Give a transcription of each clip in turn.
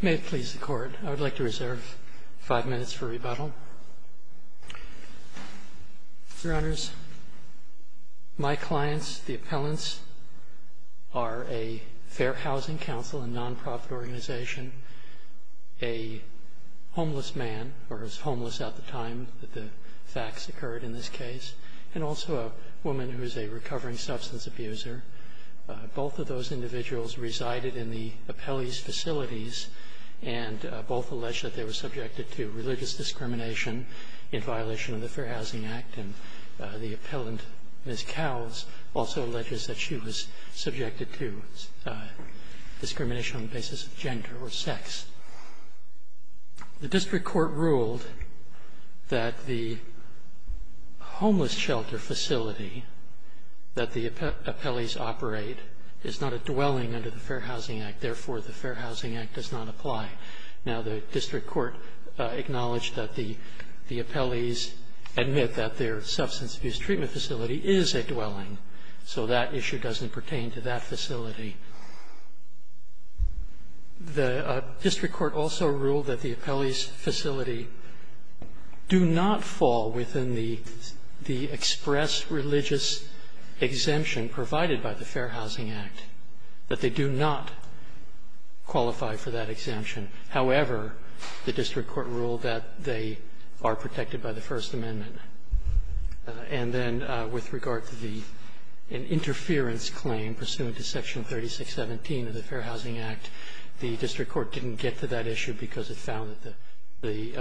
May it please the Court, I would like to reserve five minutes for rebuttal. Your Honors, my clients, the appellants, are a Fair Housing Council, a non-profit organization, a homeless man, or was homeless at the time that the facts occurred in this case, and also a woman who is a recovering substance abuser. Both of those individuals resided in the appellee's facilities, and both allege that they were subjected to religious discrimination in violation of the Fair Housing Act. And the appellant, Ms. Cowles, also alleges that she was subjected to discrimination on the basis of gender or sex. The District Court ruled that the homeless shelter facility that the appellees operate is not a dwelling under the Fair Housing Act, therefore the Fair Housing Act does not apply. Now the District Court acknowledged that the appellees admit that their substance abuse treatment facility is a dwelling, so that issue doesn't pertain to that facility. The District Court also ruled that the appellee's facility do not fall within the express religious exemption provided by the Fair Housing Act, that they do not qualify for that exemption. However, the District Court ruled that they are protected by the First Amendment. And then with regard to the interference claim pursuant to Section 3617 of the Fair Housing Act, the District Court didn't get to that issue because it found that the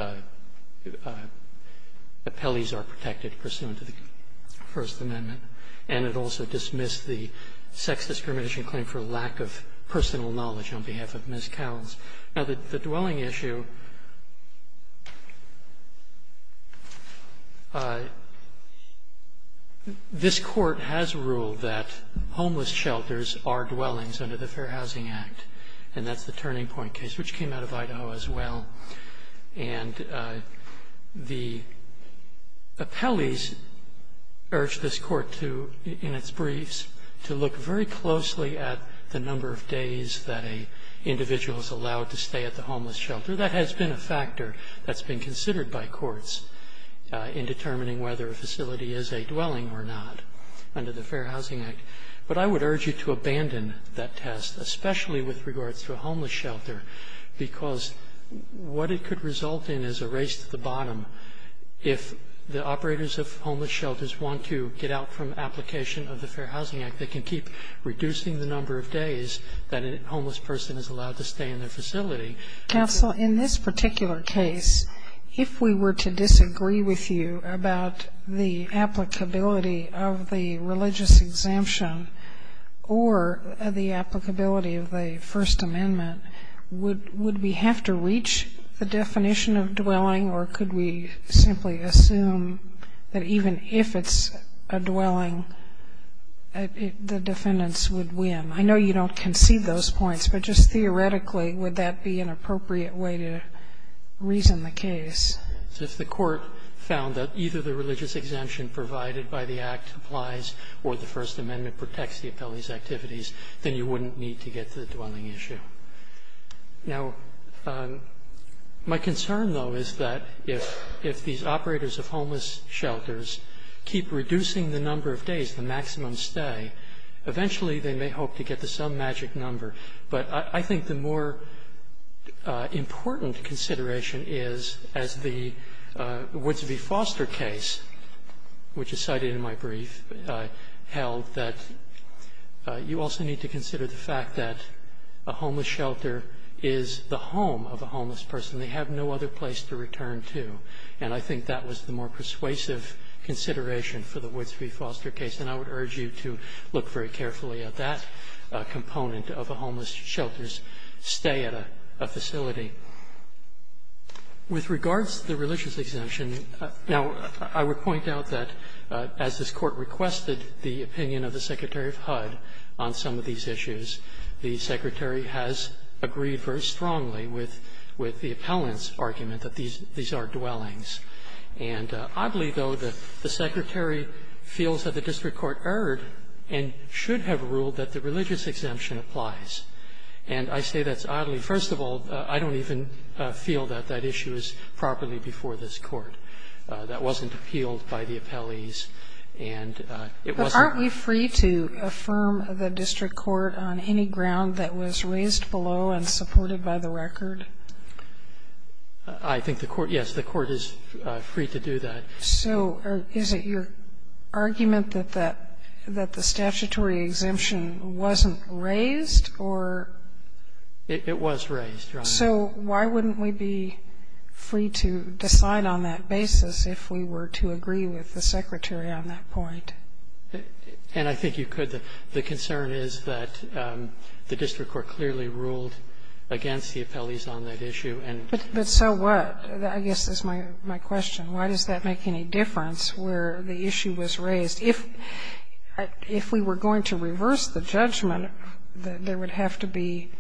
appellees are protected pursuant to the First Amendment. And it also dismissed the sex discrimination claim for lack of personal knowledge on behalf of Ms. Cowles. Now the dwelling issue, this Court has ruled that homeless shelters are dwellings under the Fair Housing Act, and that's the Turning Point case, which came out of Idaho as well. And the appellees urged this Court to, in its briefs, to look very closely at the number of days that an individual is allowed to stay at the homeless shelter. That has been a factor that's been considered by courts in determining whether a facility is a dwelling or not under the Fair Housing Act. But I would urge you to abandon that test, especially with regards to a homeless shelter, because what it could result in is a race to the bottom. If the operators of homeless shelters want to get out from application of the Fair Housing Act, they can keep reducing the number of days that a homeless person is allowed to stay in their facility. Counsel, in this particular case, if we were to disagree with you about the applicability of the religious exemption or the applicability of the First Amendment, would we have to reach the definition of dwelling or could we simply assume that even if it's a dwelling, the defendants would win? I know you don't concede those points, but just theoretically, would that be an appropriate way to reason the case? So if the Court found that either the religious exemption provided by the Act applies or the First Amendment protects the appellee's activities, then you wouldn't need to get to the dwelling issue. Now, my concern, though, is that if these operators of homeless shelters keep reducing the number of days, the maximum stay, eventually they may hope to get to some magic number, but I think the more important consideration is, as the Woodsby Foster case, which is cited in my brief, held that you also need to consider the fact that a homeless shelter is the home of a homeless person. They have no other place to return to. And I think that was the more persuasive consideration for the Woodsby Foster case, and I would urge you to look very carefully at that component of a homeless shelter's stay at a facility. With regards to the religious exemption, now, I would point out that as this Court requested the opinion of the Secretary of HUD on some of these issues, the Secretary has agreed very strongly with the appellant's argument that these are dwellings. And oddly, though, the Secretary feels that the district court erred and should have ruled that the religious exemption applies. And I say that's oddly. First of all, I don't even feel that that issue is properly before this Court. That wasn't appealed by the appellees, and it wasn't. Sotomayor, aren't we free to affirm the district court on any ground that was raised below and supported by the record? I think the court, yes, the court is free to do that. So is it your argument that the statutory exemption wasn't raised or? It was raised, Your Honor. So why wouldn't we be free to decide on that basis if we were to agree with the Secretary on that point? And I think you could. The concern is that the district court clearly ruled against the appellees on that issue. But so what? I guess that's my question. Why does that make any difference where the issue was raised? If we were going to reverse the judgment, there would have to be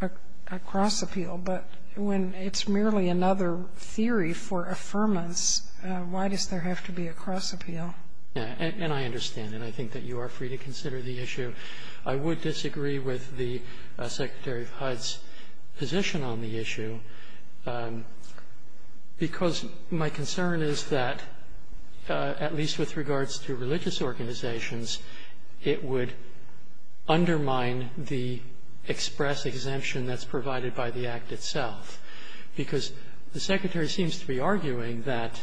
a cross-appeal. But when it's merely another theory for affirmance, why does there have to be a cross-appeal? And I understand, and I think that you are free to consider the issue. I would disagree with the Secretary of HUD's position on the issue, because my concern is that, at least with regards to religious organizations, it would undermine the express exemption that's provided by the Act itself. Because the Secretary seems to be arguing that,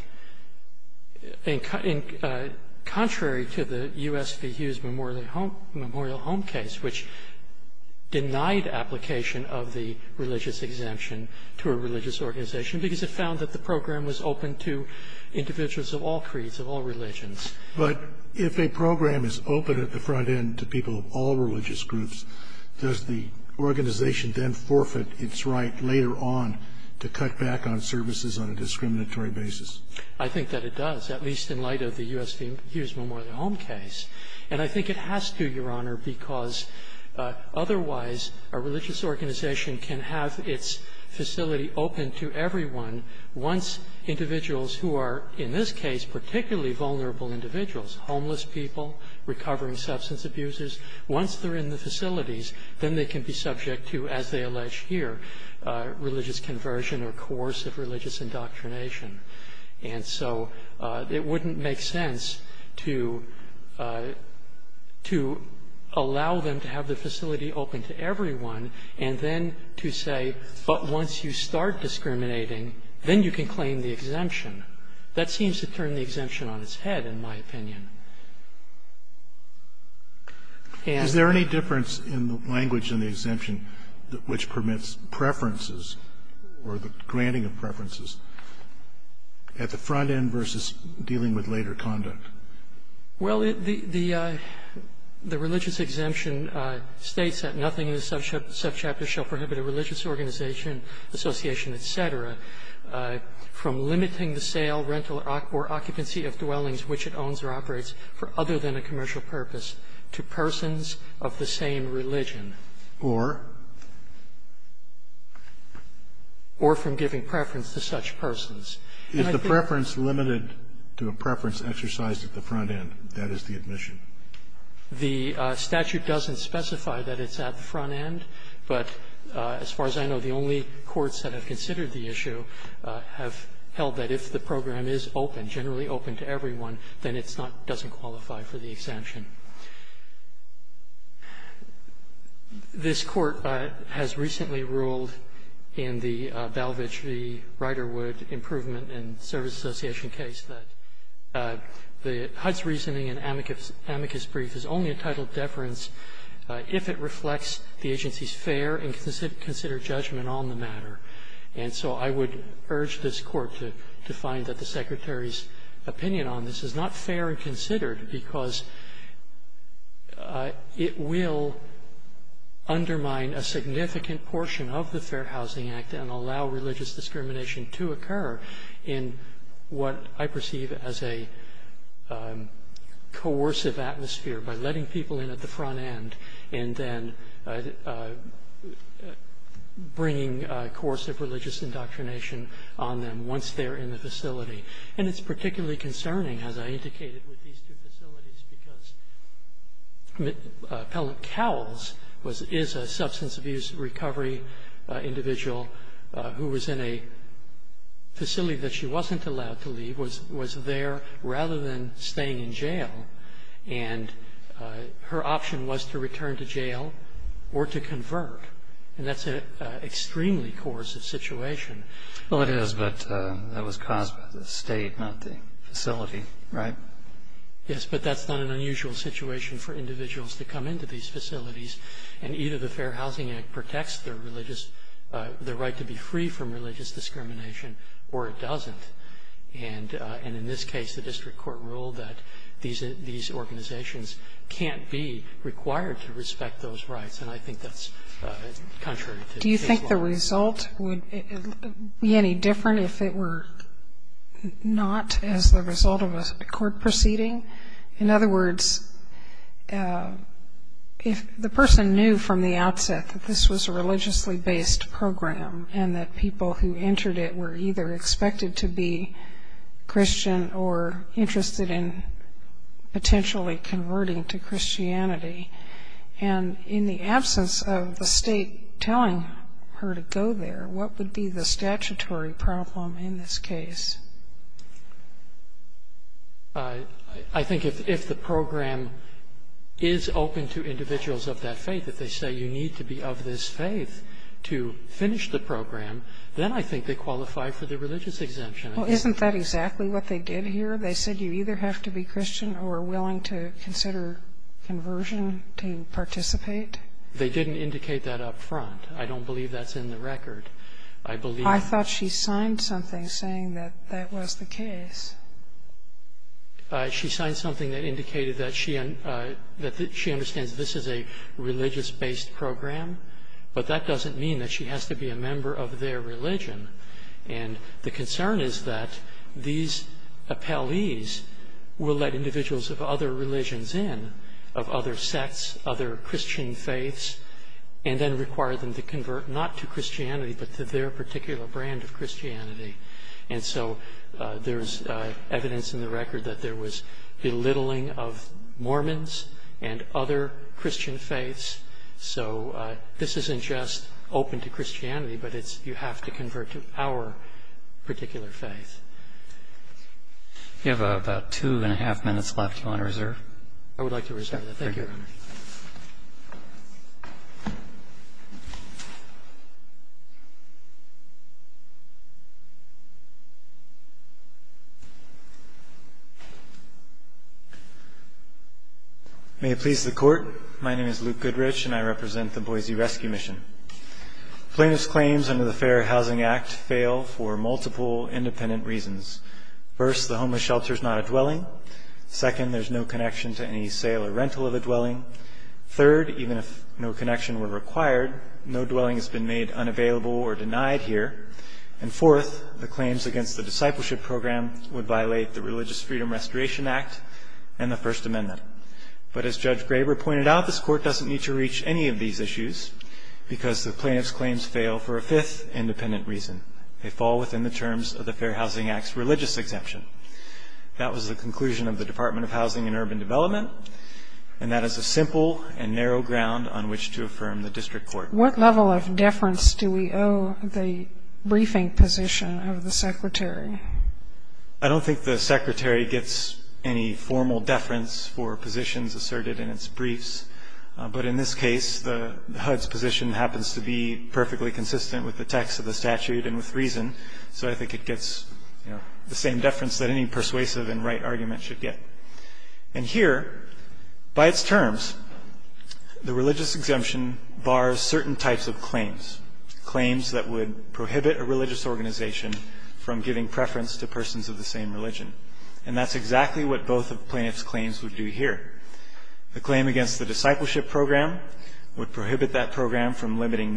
contrary to the U.S. v. Hughes memorial home case, which denied application of the religious exemption to a religious organization because it found that the program was open to individuals of all creeds, of all religions. But if a program is open at the front end to people of all religious groups, does the organization then forfeit its right later on to cut back on services on a discriminatory basis? I think that it does, at least in light of the U.S. v. Hughes memorial home case. And I think it has to, Your Honor, because otherwise a religious organization can have its facility open to everyone once individuals who are, in this case, particularly vulnerable individuals, homeless people, recovering substance abusers, once they're in the facilities, then they can be subject to, as they allege here, religious conversion or coercive religious indoctrination. And so it wouldn't make sense to allow them to have the facility open to everyone and then to say, but once you start discriminating, then you can claim the exemption. That seems to turn the exemption on its head, in my opinion. Is there any difference in the language in the exemption which permits preferences or the granting of preferences at the front end versus dealing with later conduct? Well, the religious exemption states that nothing in the subchapter shall prohibit a religious organization, association, et cetera, from limiting the sale, rental, or occupancy of dwellings which it owns or operates for other than a commercial purpose to persons of the same religion or from giving preference to such persons. Is the preference limited to a preference exercised at the front end? That is the admission. The statute doesn't specify that it's at the front end, but as far as I know, the only courts that have considered the issue have held that if the program is open, generally open to everyone, then it's not doesn't qualify for the exemption. This Court has recently ruled in the Balvich v. Riderwood improvement and service association case that the HUD's reasoning in amicus brief is only entitled deference if it reflects the agency's fair and considered judgment on the matter. And so I would urge this Court to find that the Secretary's opinion on this is not fair and considered because it will undermine a significant portion of the Fair Housing Act and allow religious discrimination to occur in what I perceive as a coercive atmosphere by letting people in at the front end and then bringing a course of religious indoctrination on them once they're in the facility. And it's particularly concerning, as I indicated, with these two facilities because Appellant Cowles is a substance abuse recovery individual who was in a facility that she wasn't allowed to leave, was there rather than staying in jail. And her option was to return to jail or to convert, and that's an extremely coercive situation. Well, it is, but that was caused by the state, not the facility, right? Yes, but that's not an unusual situation for individuals to come into these facilities, and either the Fair Housing Act protects their right to be free from religious discrimination or it doesn't. And in this case, the district court ruled that these organizations can't be required to respect those rights, and I think that's contrary to this law. Do you think the result would be any different if it were not as the result of a court proceeding? In other words, if the person knew from the outset that this was a religiously-based program and that people who entered it were either expected to be Christian or interested in potentially converting to Christianity, and in the absence of the state telling her to go there, what would be the statutory problem in this case? I think if the program is open to individuals of that faith, if they say you need to be of this faith to finish the program, then I think they qualify for the religious exemption. Well, isn't that exactly what they did here? They said you either have to be Christian or willing to consider conversion to participate? They didn't indicate that up front. I don't believe that's in the record. I believe that's in the record. I thought she signed something saying that that was the case. She signed something that indicated that she understands this is a religious-based program, but that doesn't mean that she has to be a member of their religion. And the concern is that these appellees will let individuals of other religions in, of other sects, other Christian faiths, and then require them to convert not to Christianity but to their particular brand of Christianity. And so there's evidence in the record that there was belittling of Mormons and other Christian faiths. So this isn't just open to Christianity, but you have to convert to our particular faith. We have about two and a half minutes left. Do you want to reserve? Thank you, Your Honor. May it please the Court. My name is Luke Goodrich, and I represent the Boise Rescue Mission. Plaintiff's claims under the Fair Housing Act fail for multiple independent reasons. First, the homeless shelter is not a dwelling. Second, there's no connection to any sale or rental of a dwelling. Third, even if no connection were required, no dwelling has been made unavailable or denied here. And fourth, the claims against the discipleship program would violate the Religious Freedom Restoration Act and the First Amendment. But as Judge Graber pointed out, this Court doesn't need to reach any of these issues because the plaintiff's claims fail for a fifth independent reason. They fall within the terms of the Fair Housing Act's religious exemption. That was the conclusion of the Department of Housing and Urban Development, and that is a simple and narrow ground on which to affirm the district court. What level of deference do we owe the briefing position of the secretary? I don't think the secretary gets any formal deference for positions asserted in its briefs. But in this case, the HUD's position happens to be perfectly consistent with the text of the statute and with reason, so I think it gets the same deference that any persuasive and right argument should get. And here, by its terms, the religious exemption bars certain types of claims, claims that would prohibit a religious organization from giving preference to persons of the same religion. And that's exactly what both of the plaintiff's claims would do here. The claim against the discipleship program would prohibit that program from limiting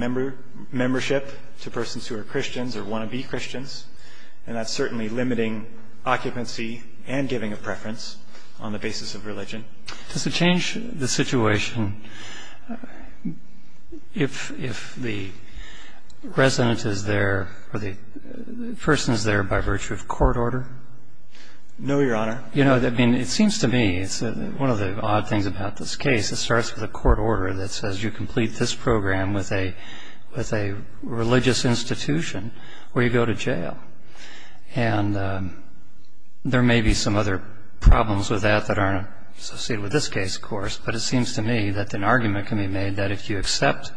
membership to persons who are Christians or want to be Christians, and that's certainly limiting occupancy and giving of preference on the basis of religion. Does it change the situation if the resident is there or the person is there by virtue of court order? No, Your Honor. You know, I mean, it seems to me, one of the odd things about this case, it starts with a court order that says you complete this program with a religious institution or you go to jail. And there may be some other problems with that that aren't associated with this case, of course, but it seems to me that an argument can be made that if you accept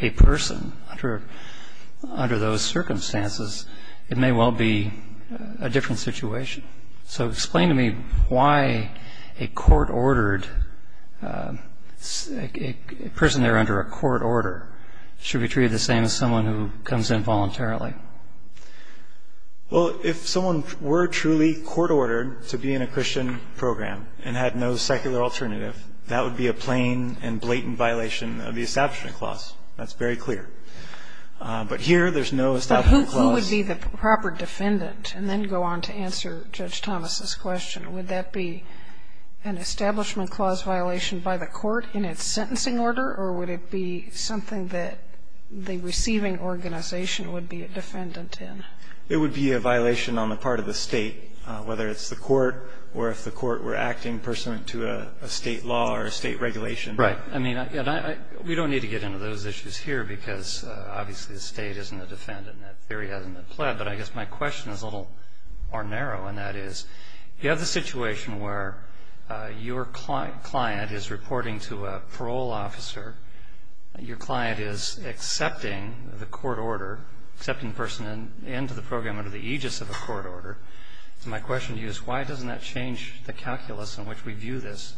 a person under those circumstances, it may well be a different situation. So explain to me why a court-ordered, a person there under a court order, should be treated the same as someone who comes in voluntarily. Well, if someone were truly court-ordered to be in a Christian program and had no secular alternative, that would be a plain and blatant violation of the Establishment Clause. That's very clear. But here there's no Establishment Clause. Who would be the proper defendant? And then go on to answer Judge Thomas's question. Would that be an Establishment Clause violation by the court in its sentencing order, or would it be something that the receiving organization would be a defendant in? It would be a violation on the part of the State, whether it's the court or if the court were acting pursuant to a State law or a State regulation. Right. I mean, we don't need to get into those issues here because obviously the State isn't a defendant and that theory hasn't been pled. But I guess my question is a little more narrow, and that is, you have the situation where your client is reporting to a parole officer. Your client is accepting the court order, accepting the person into the program under the aegis of a court order. My question to you is why doesn't that change the calculus in which we view this?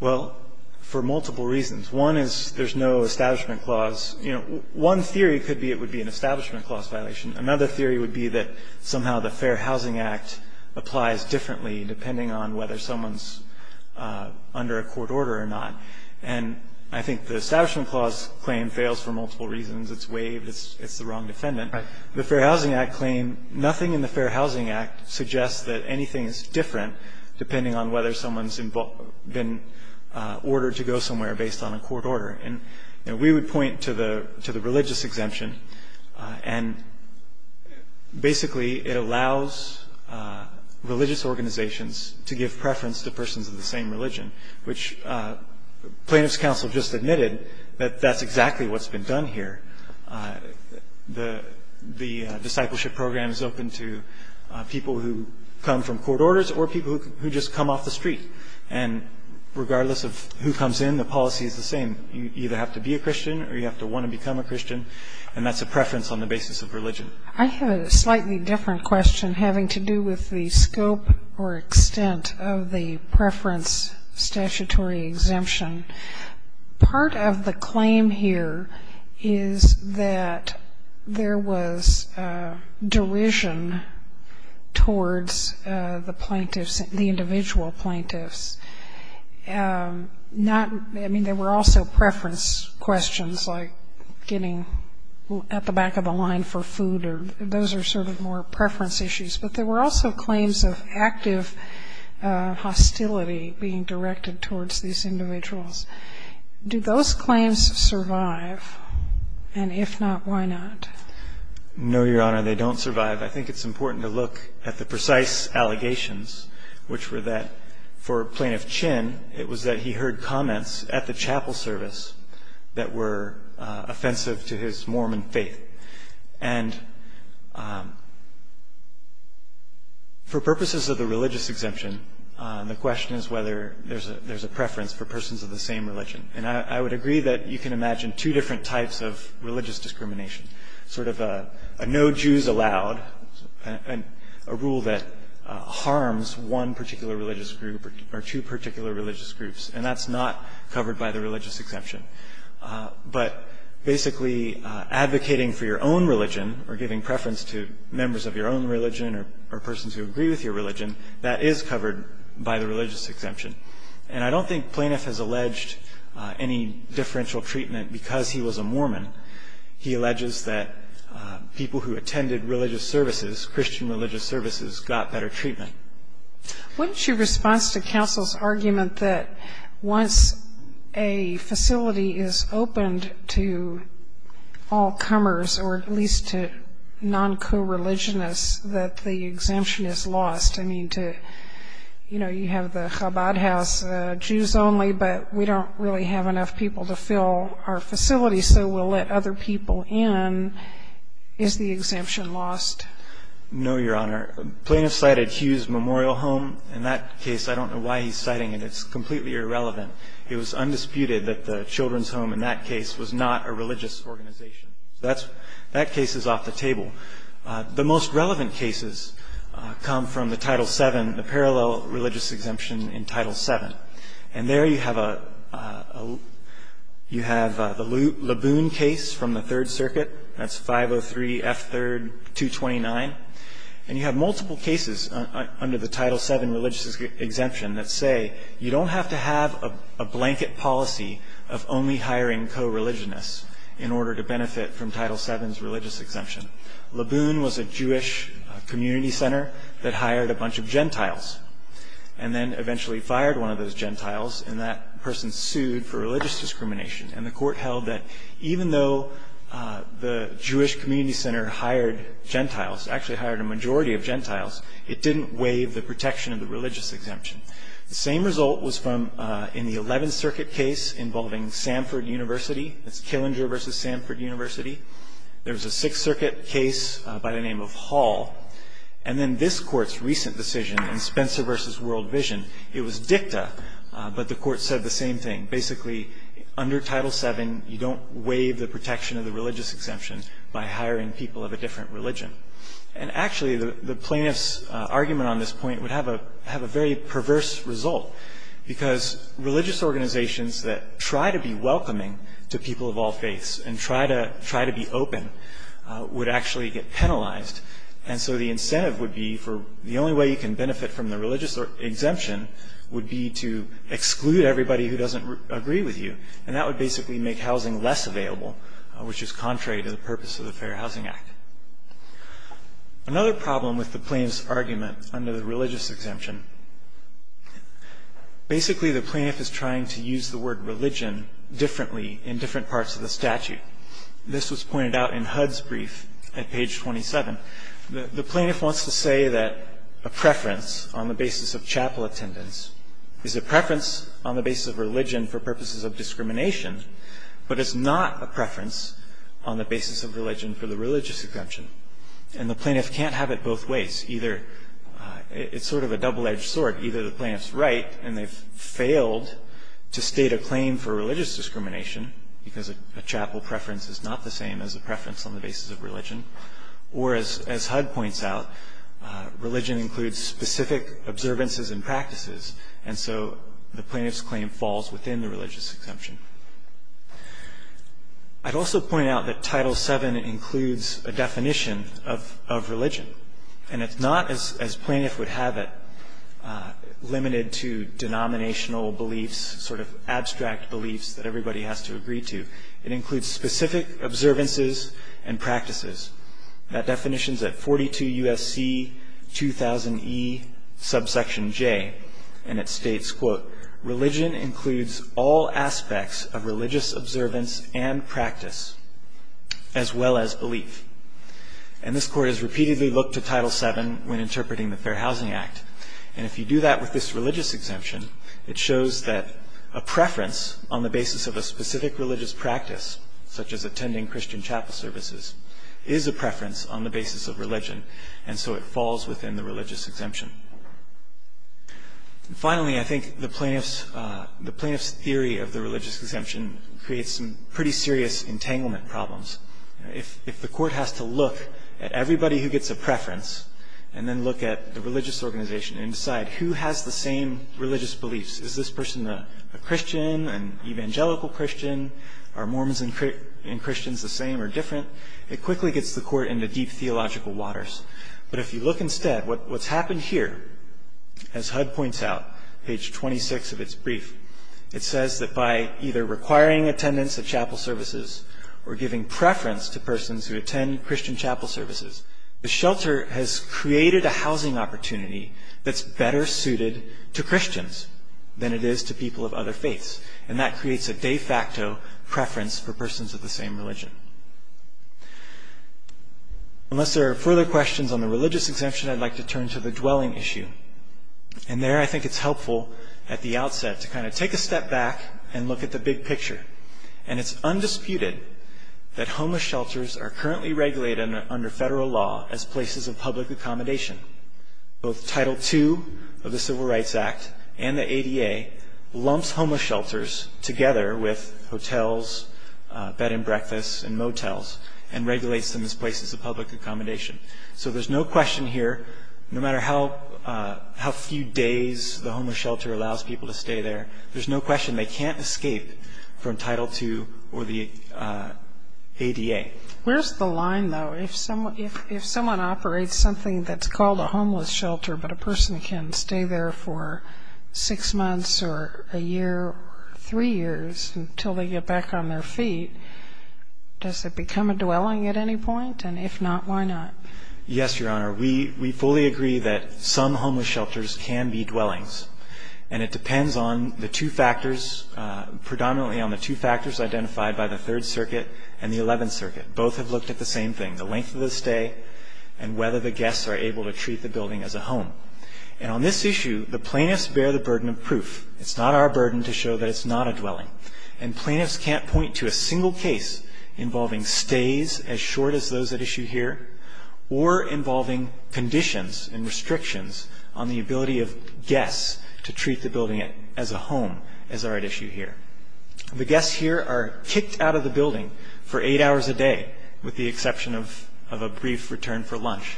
Well, for multiple reasons. One is there's no Establishment Clause. You know, one theory could be it would be an Establishment Clause violation. Another theory would be that somehow the Fair Housing Act applies differently depending on whether someone's under a court order or not. And I think the Establishment Clause claim fails for multiple reasons. It's waived. It's the wrong defendant. The Fair Housing Act claim, nothing in the Fair Housing Act suggests that anything is different depending on whether someone's been ordered to go somewhere based on a court order. And we would point to the religious exemption, and basically it allows religious organizations to give preference to persons of the same religion, which plaintiff's counsel just admitted that that's exactly what's been done here. The discipleship program is open to people who come from court orders or people who just come off the street. And regardless of who comes in, the policy is the same. You either have to be a Christian or you have to want to become a Christian, and that's a preference on the basis of religion. I have a slightly different question having to do with the scope or extent of the preference statutory exemption. Part of the claim here is that there was derision towards the plaintiffs, the individual plaintiffs. I mean, there were also preference questions like getting at the back of the line for food or those are sort of more preference issues. But there were also claims of active hostility being directed towards these individuals. Do those claims survive? And if not, why not? No, Your Honor, they don't survive. I think it's important to look at the precise allegations, which were that for Plaintiff Chinn it was that he heard comments at the chapel service that were offensive to his Mormon faith. And for purposes of the religious exemption, the question is whether there's a preference for persons of the same religion. And I would agree that you can imagine two different types of religious discrimination, sort of a no Jews allowed, a rule that harms one particular religious group or two particular religious groups, and that's not covered by the religious exemption. But basically advocating for your own religion or giving preference to members of your own religion or persons who agree with your religion, that is covered by the religious exemption. And I don't think Plaintiff has alleged any differential treatment because he was a Mormon. He alleges that people who attended religious services, Christian religious services, got better treatment. What is your response to counsel's argument that once a facility is opened to all comers, or at least to non-co-religionists, that the exemption is lost? I mean, you have the Chabad house, Jews only, but we don't really have enough people to fill our facility so we'll let other people in. Is the exemption lost? No, Your Honor. Plaintiff cited Hughes Memorial Home. In that case, I don't know why he's citing it. It's completely irrelevant. It was undisputed that the children's home in that case was not a religious organization. That case is off the table. The most relevant cases come from the Title VII, the parallel religious exemption in Title VII. And there you have the Laboon case from the Third Circuit. That's 503F3229. And you have multiple cases under the Title VII religious exemption that say you don't have to have a blanket policy of only hiring co-religionists in order to benefit from Title VII's religious exemption. Laboon was a Jewish community center that hired a bunch of Gentiles and then eventually fired one of those Gentiles, and that person sued for religious discrimination. And the court held that even though the Jewish community center hired Gentiles, actually hired a majority of Gentiles, it didn't waive the protection of the religious exemption. The same result was in the Eleventh Circuit case involving Samford University. That's Killinger v. Samford University. There was a Sixth Circuit case by the name of Hall. And then this Court's recent decision in Spencer v. World Vision, it was dicta, but the Court said the same thing. Basically, under Title VII, you don't waive the protection of the religious exemption by hiring people of a different religion. And actually, the plaintiff's argument on this point would have a very perverse result because religious organizations that try to be welcoming to people of all faiths and try to be open would actually get penalized. And so the incentive would be, the only way you can benefit from the religious exemption would be to exclude everybody who doesn't agree with you. And that would basically make housing less available, which is contrary to the purpose of the Fair Housing Act. Another problem with the plaintiff's argument under the religious exemption, basically the plaintiff is trying to use the word religion differently in different parts of the statute. This was pointed out in HUD's brief at page 27. The plaintiff wants to say that a preference on the basis of chapel attendance is a preference on the basis of religion for purposes of discrimination, but it's not a preference on the basis of religion for the religious exemption. And the plaintiff can't have it both ways. It's sort of a double-edged sword. Either the plaintiff's right, and they've failed to state a claim for religious discrimination because a chapel preference is not the same as a preference on the basis of religion, or as HUD points out, religion includes specific observances and practices, and so the plaintiff's claim falls within the religious exemption. I'd also point out that Title VII includes a definition of religion, and it's not, as plaintiff would have it, limited to denominational beliefs, sort of abstract beliefs that everybody has to agree to. It includes specific observances and practices. That definition's at 42 U.S.C. 2000e subsection J, and it states, quote, religion includes all aspects of religious observance and practice, as well as belief. And this Court has repeatedly looked to Title VII when interpreting the Fair Housing Act. And if you do that with this religious exemption, it shows that a preference on the basis of a specific religious practice, such as attending Christian chapel services, is a preference on the basis of religion, and so it falls within the religious exemption. Finally, I think the plaintiff's theory of the religious exemption creates some pretty serious entanglement problems. If the Court has to look at everybody who gets a preference and then look at the religious organization and decide who has the same religious beliefs, is this person a Christian, an evangelical Christian, are Mormons and Christians the same or different, it quickly gets the Court into deep theological waters. But if you look instead, what's happened here, as HUD points out, page 26 of its brief, it says that by either requiring attendance at chapel services or giving preference to persons who attend Christian chapel services, the shelter has created a housing opportunity that's better suited to Christians than it is to people of other faiths. And that creates a de facto preference for persons of the same religion. Unless there are further questions on the religious exemption, I'd like to turn to the dwelling issue. And there I think it's helpful at the outset to kind of take a step back and look at the big picture. And it's undisputed that homeless shelters are currently regulated under federal law as places of public accommodation. Both Title II of the Civil Rights Act and the ADA lumps homeless shelters together with hotels, bed and breakfast, and motels and regulates them as places of public accommodation. So there's no question here, no matter how few days the homeless shelter allows people to stay there, there's no question they can't escape from Title II or the ADA. Where's the line, though? If someone operates something that's called a homeless shelter but a person can stay there for six months or a year or three years until they get back on their feet, does it become a dwelling at any point? And if not, why not? Yes, Your Honor. We fully agree that some homeless shelters can be dwellings. And it depends on the two factors, predominantly on the two factors identified by the Third Circuit and the Eleventh Circuit. Both have looked at the same thing, the length of the stay and whether the guests are able to treat the building as a home. And on this issue, the plaintiffs bear the burden of proof. It's not our burden to show that it's not a dwelling. And plaintiffs can't point to a single case involving stays as short as those at issue here or involving conditions and restrictions on the ability of guests to treat the building as a home as are at issue here. The guests here are kicked out of the building for eight hours a day with the exception of a brief return for lunch.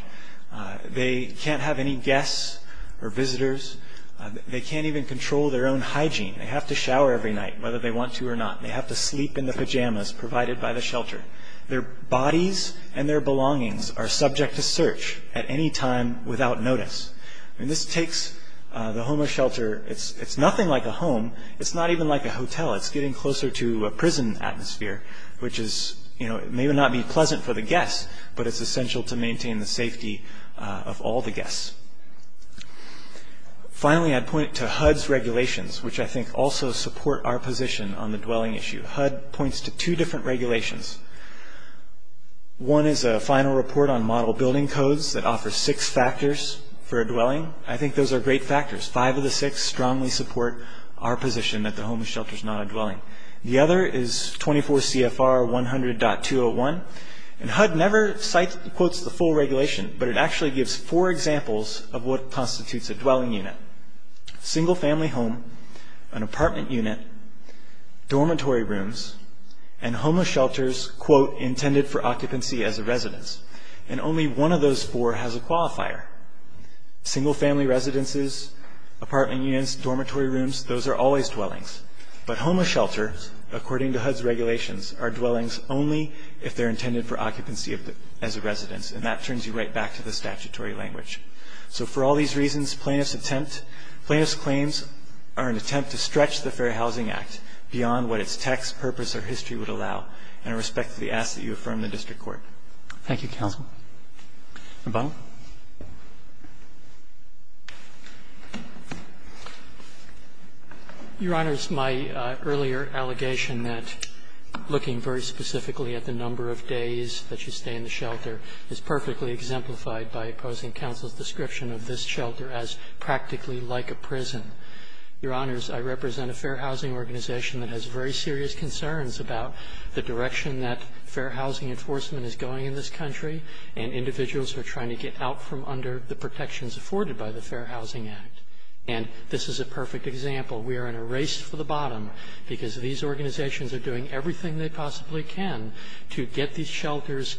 They can't have any guests or visitors. They can't even control their own hygiene. They have to shower every night whether they want to or not. They have to sleep in the pajamas provided by the shelter. Their bodies and their belongings are subject to search at any time without notice. I mean, this takes the home or shelter, it's nothing like a home. It's not even like a hotel. It's getting closer to a prison atmosphere, which may not be pleasant for the guests, but it's essential to maintain the safety of all the guests. Finally, I'd point to HUD's regulations, which I think also support our position on the dwelling issue. HUD points to two different regulations. One is a final report on model building codes that offers six factors for a dwelling. I think those are great factors. Five of the six strongly support our position that the home or shelter is not a dwelling. The other is 24 CFR 100.201, and HUD never quotes the full regulation, but it actually gives four examples of what constitutes a dwelling unit. Single family home, an apartment unit, dormitory rooms, and homeless shelters, quote, intended for occupancy as a residence. And only one of those four has a qualifier. Single family residences, apartment units, dormitory rooms, those are always dwellings. But homeless shelters, according to HUD's regulations, are dwellings only if they're intended for occupancy as a residence, and that turns you right back to the statutory language. So for all these reasons, plaintiff's attempt, plaintiff's claims are an attempt to stretch the Fair Housing Act beyond what its text, purpose, or history would allow. And I respectfully ask that you affirm the district court. Roberts. Thank you, counsel. Roberts. Your Honor, it's my earlier allegation that looking very specifically at the number of days that you stay in the shelter is perfectly exemplified by opposing counsel's description of this shelter as practically like a prison. Your Honors, I represent a fair housing organization that has very serious concerns about the direction that fair housing enforcement is going in this country, and individuals who are trying to get out from under the protections afforded by the Fair Housing Act. And this is a perfect example. We are in a race for the bottom because these organizations are doing everything they possibly can to get these shelters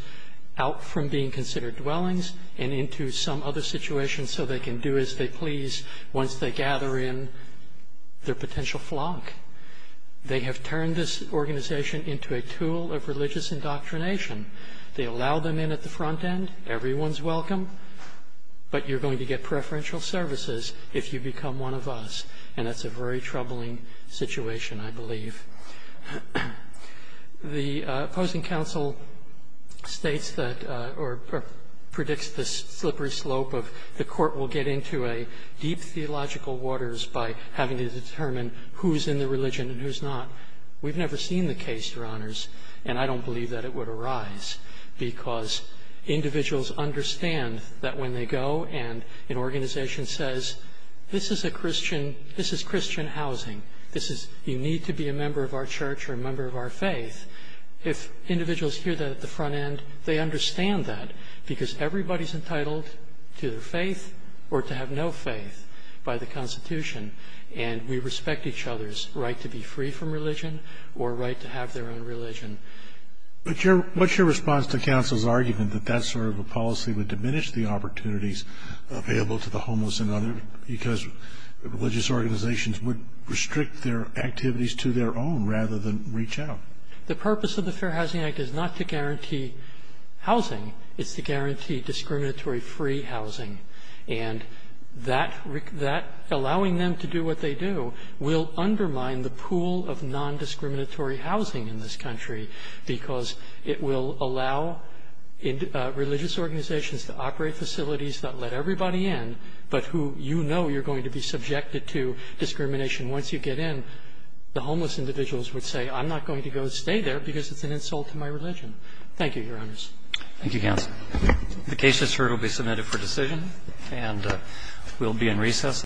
out from being considered dwellings and into some other situation so they can do as they please once they gather in their potential flock. They have turned this organization into a tool of religious indoctrination. They allow them in at the front end. Everyone's welcome. But you're going to get preferential services if you become one of us, and that's a very troubling situation, I believe. The opposing counsel states that or predicts the slippery slope of the court will get into deep theological waters by having to determine who is in the religion and who is not. We've never seen the case, Your Honors, and I don't believe that it would arise because individuals understand that when they go and an organization says, this is Christian housing. This is you need to be a member of our church or a member of our faith. If individuals hear that at the front end, they understand that because everybody's entitled to their faith or to have no faith by the Constitution, and we respect each other's right to be free from religion or right to have their own religion. But what's your response to counsel's argument that that sort of a policy would diminish the opportunities available to the homeless and others because religious organizations would restrict their activities to their own rather than reach out? The purpose of the Fair Housing Act is not to guarantee housing. It's to guarantee discriminatory free housing, and that allowing them to do what they do will undermine the pool of nondiscriminatory housing in this country because it will allow religious organizations to operate facilities that let everybody in, but who you know you're going to be subjected to discrimination. Once you get in, the homeless individuals would say, I'm not going to go stay there because it's an insult to my religion. Thank you, Your Honors. Roberts. Thank you, counsel. The case is heard. It will be submitted for decision. And we'll be in recess.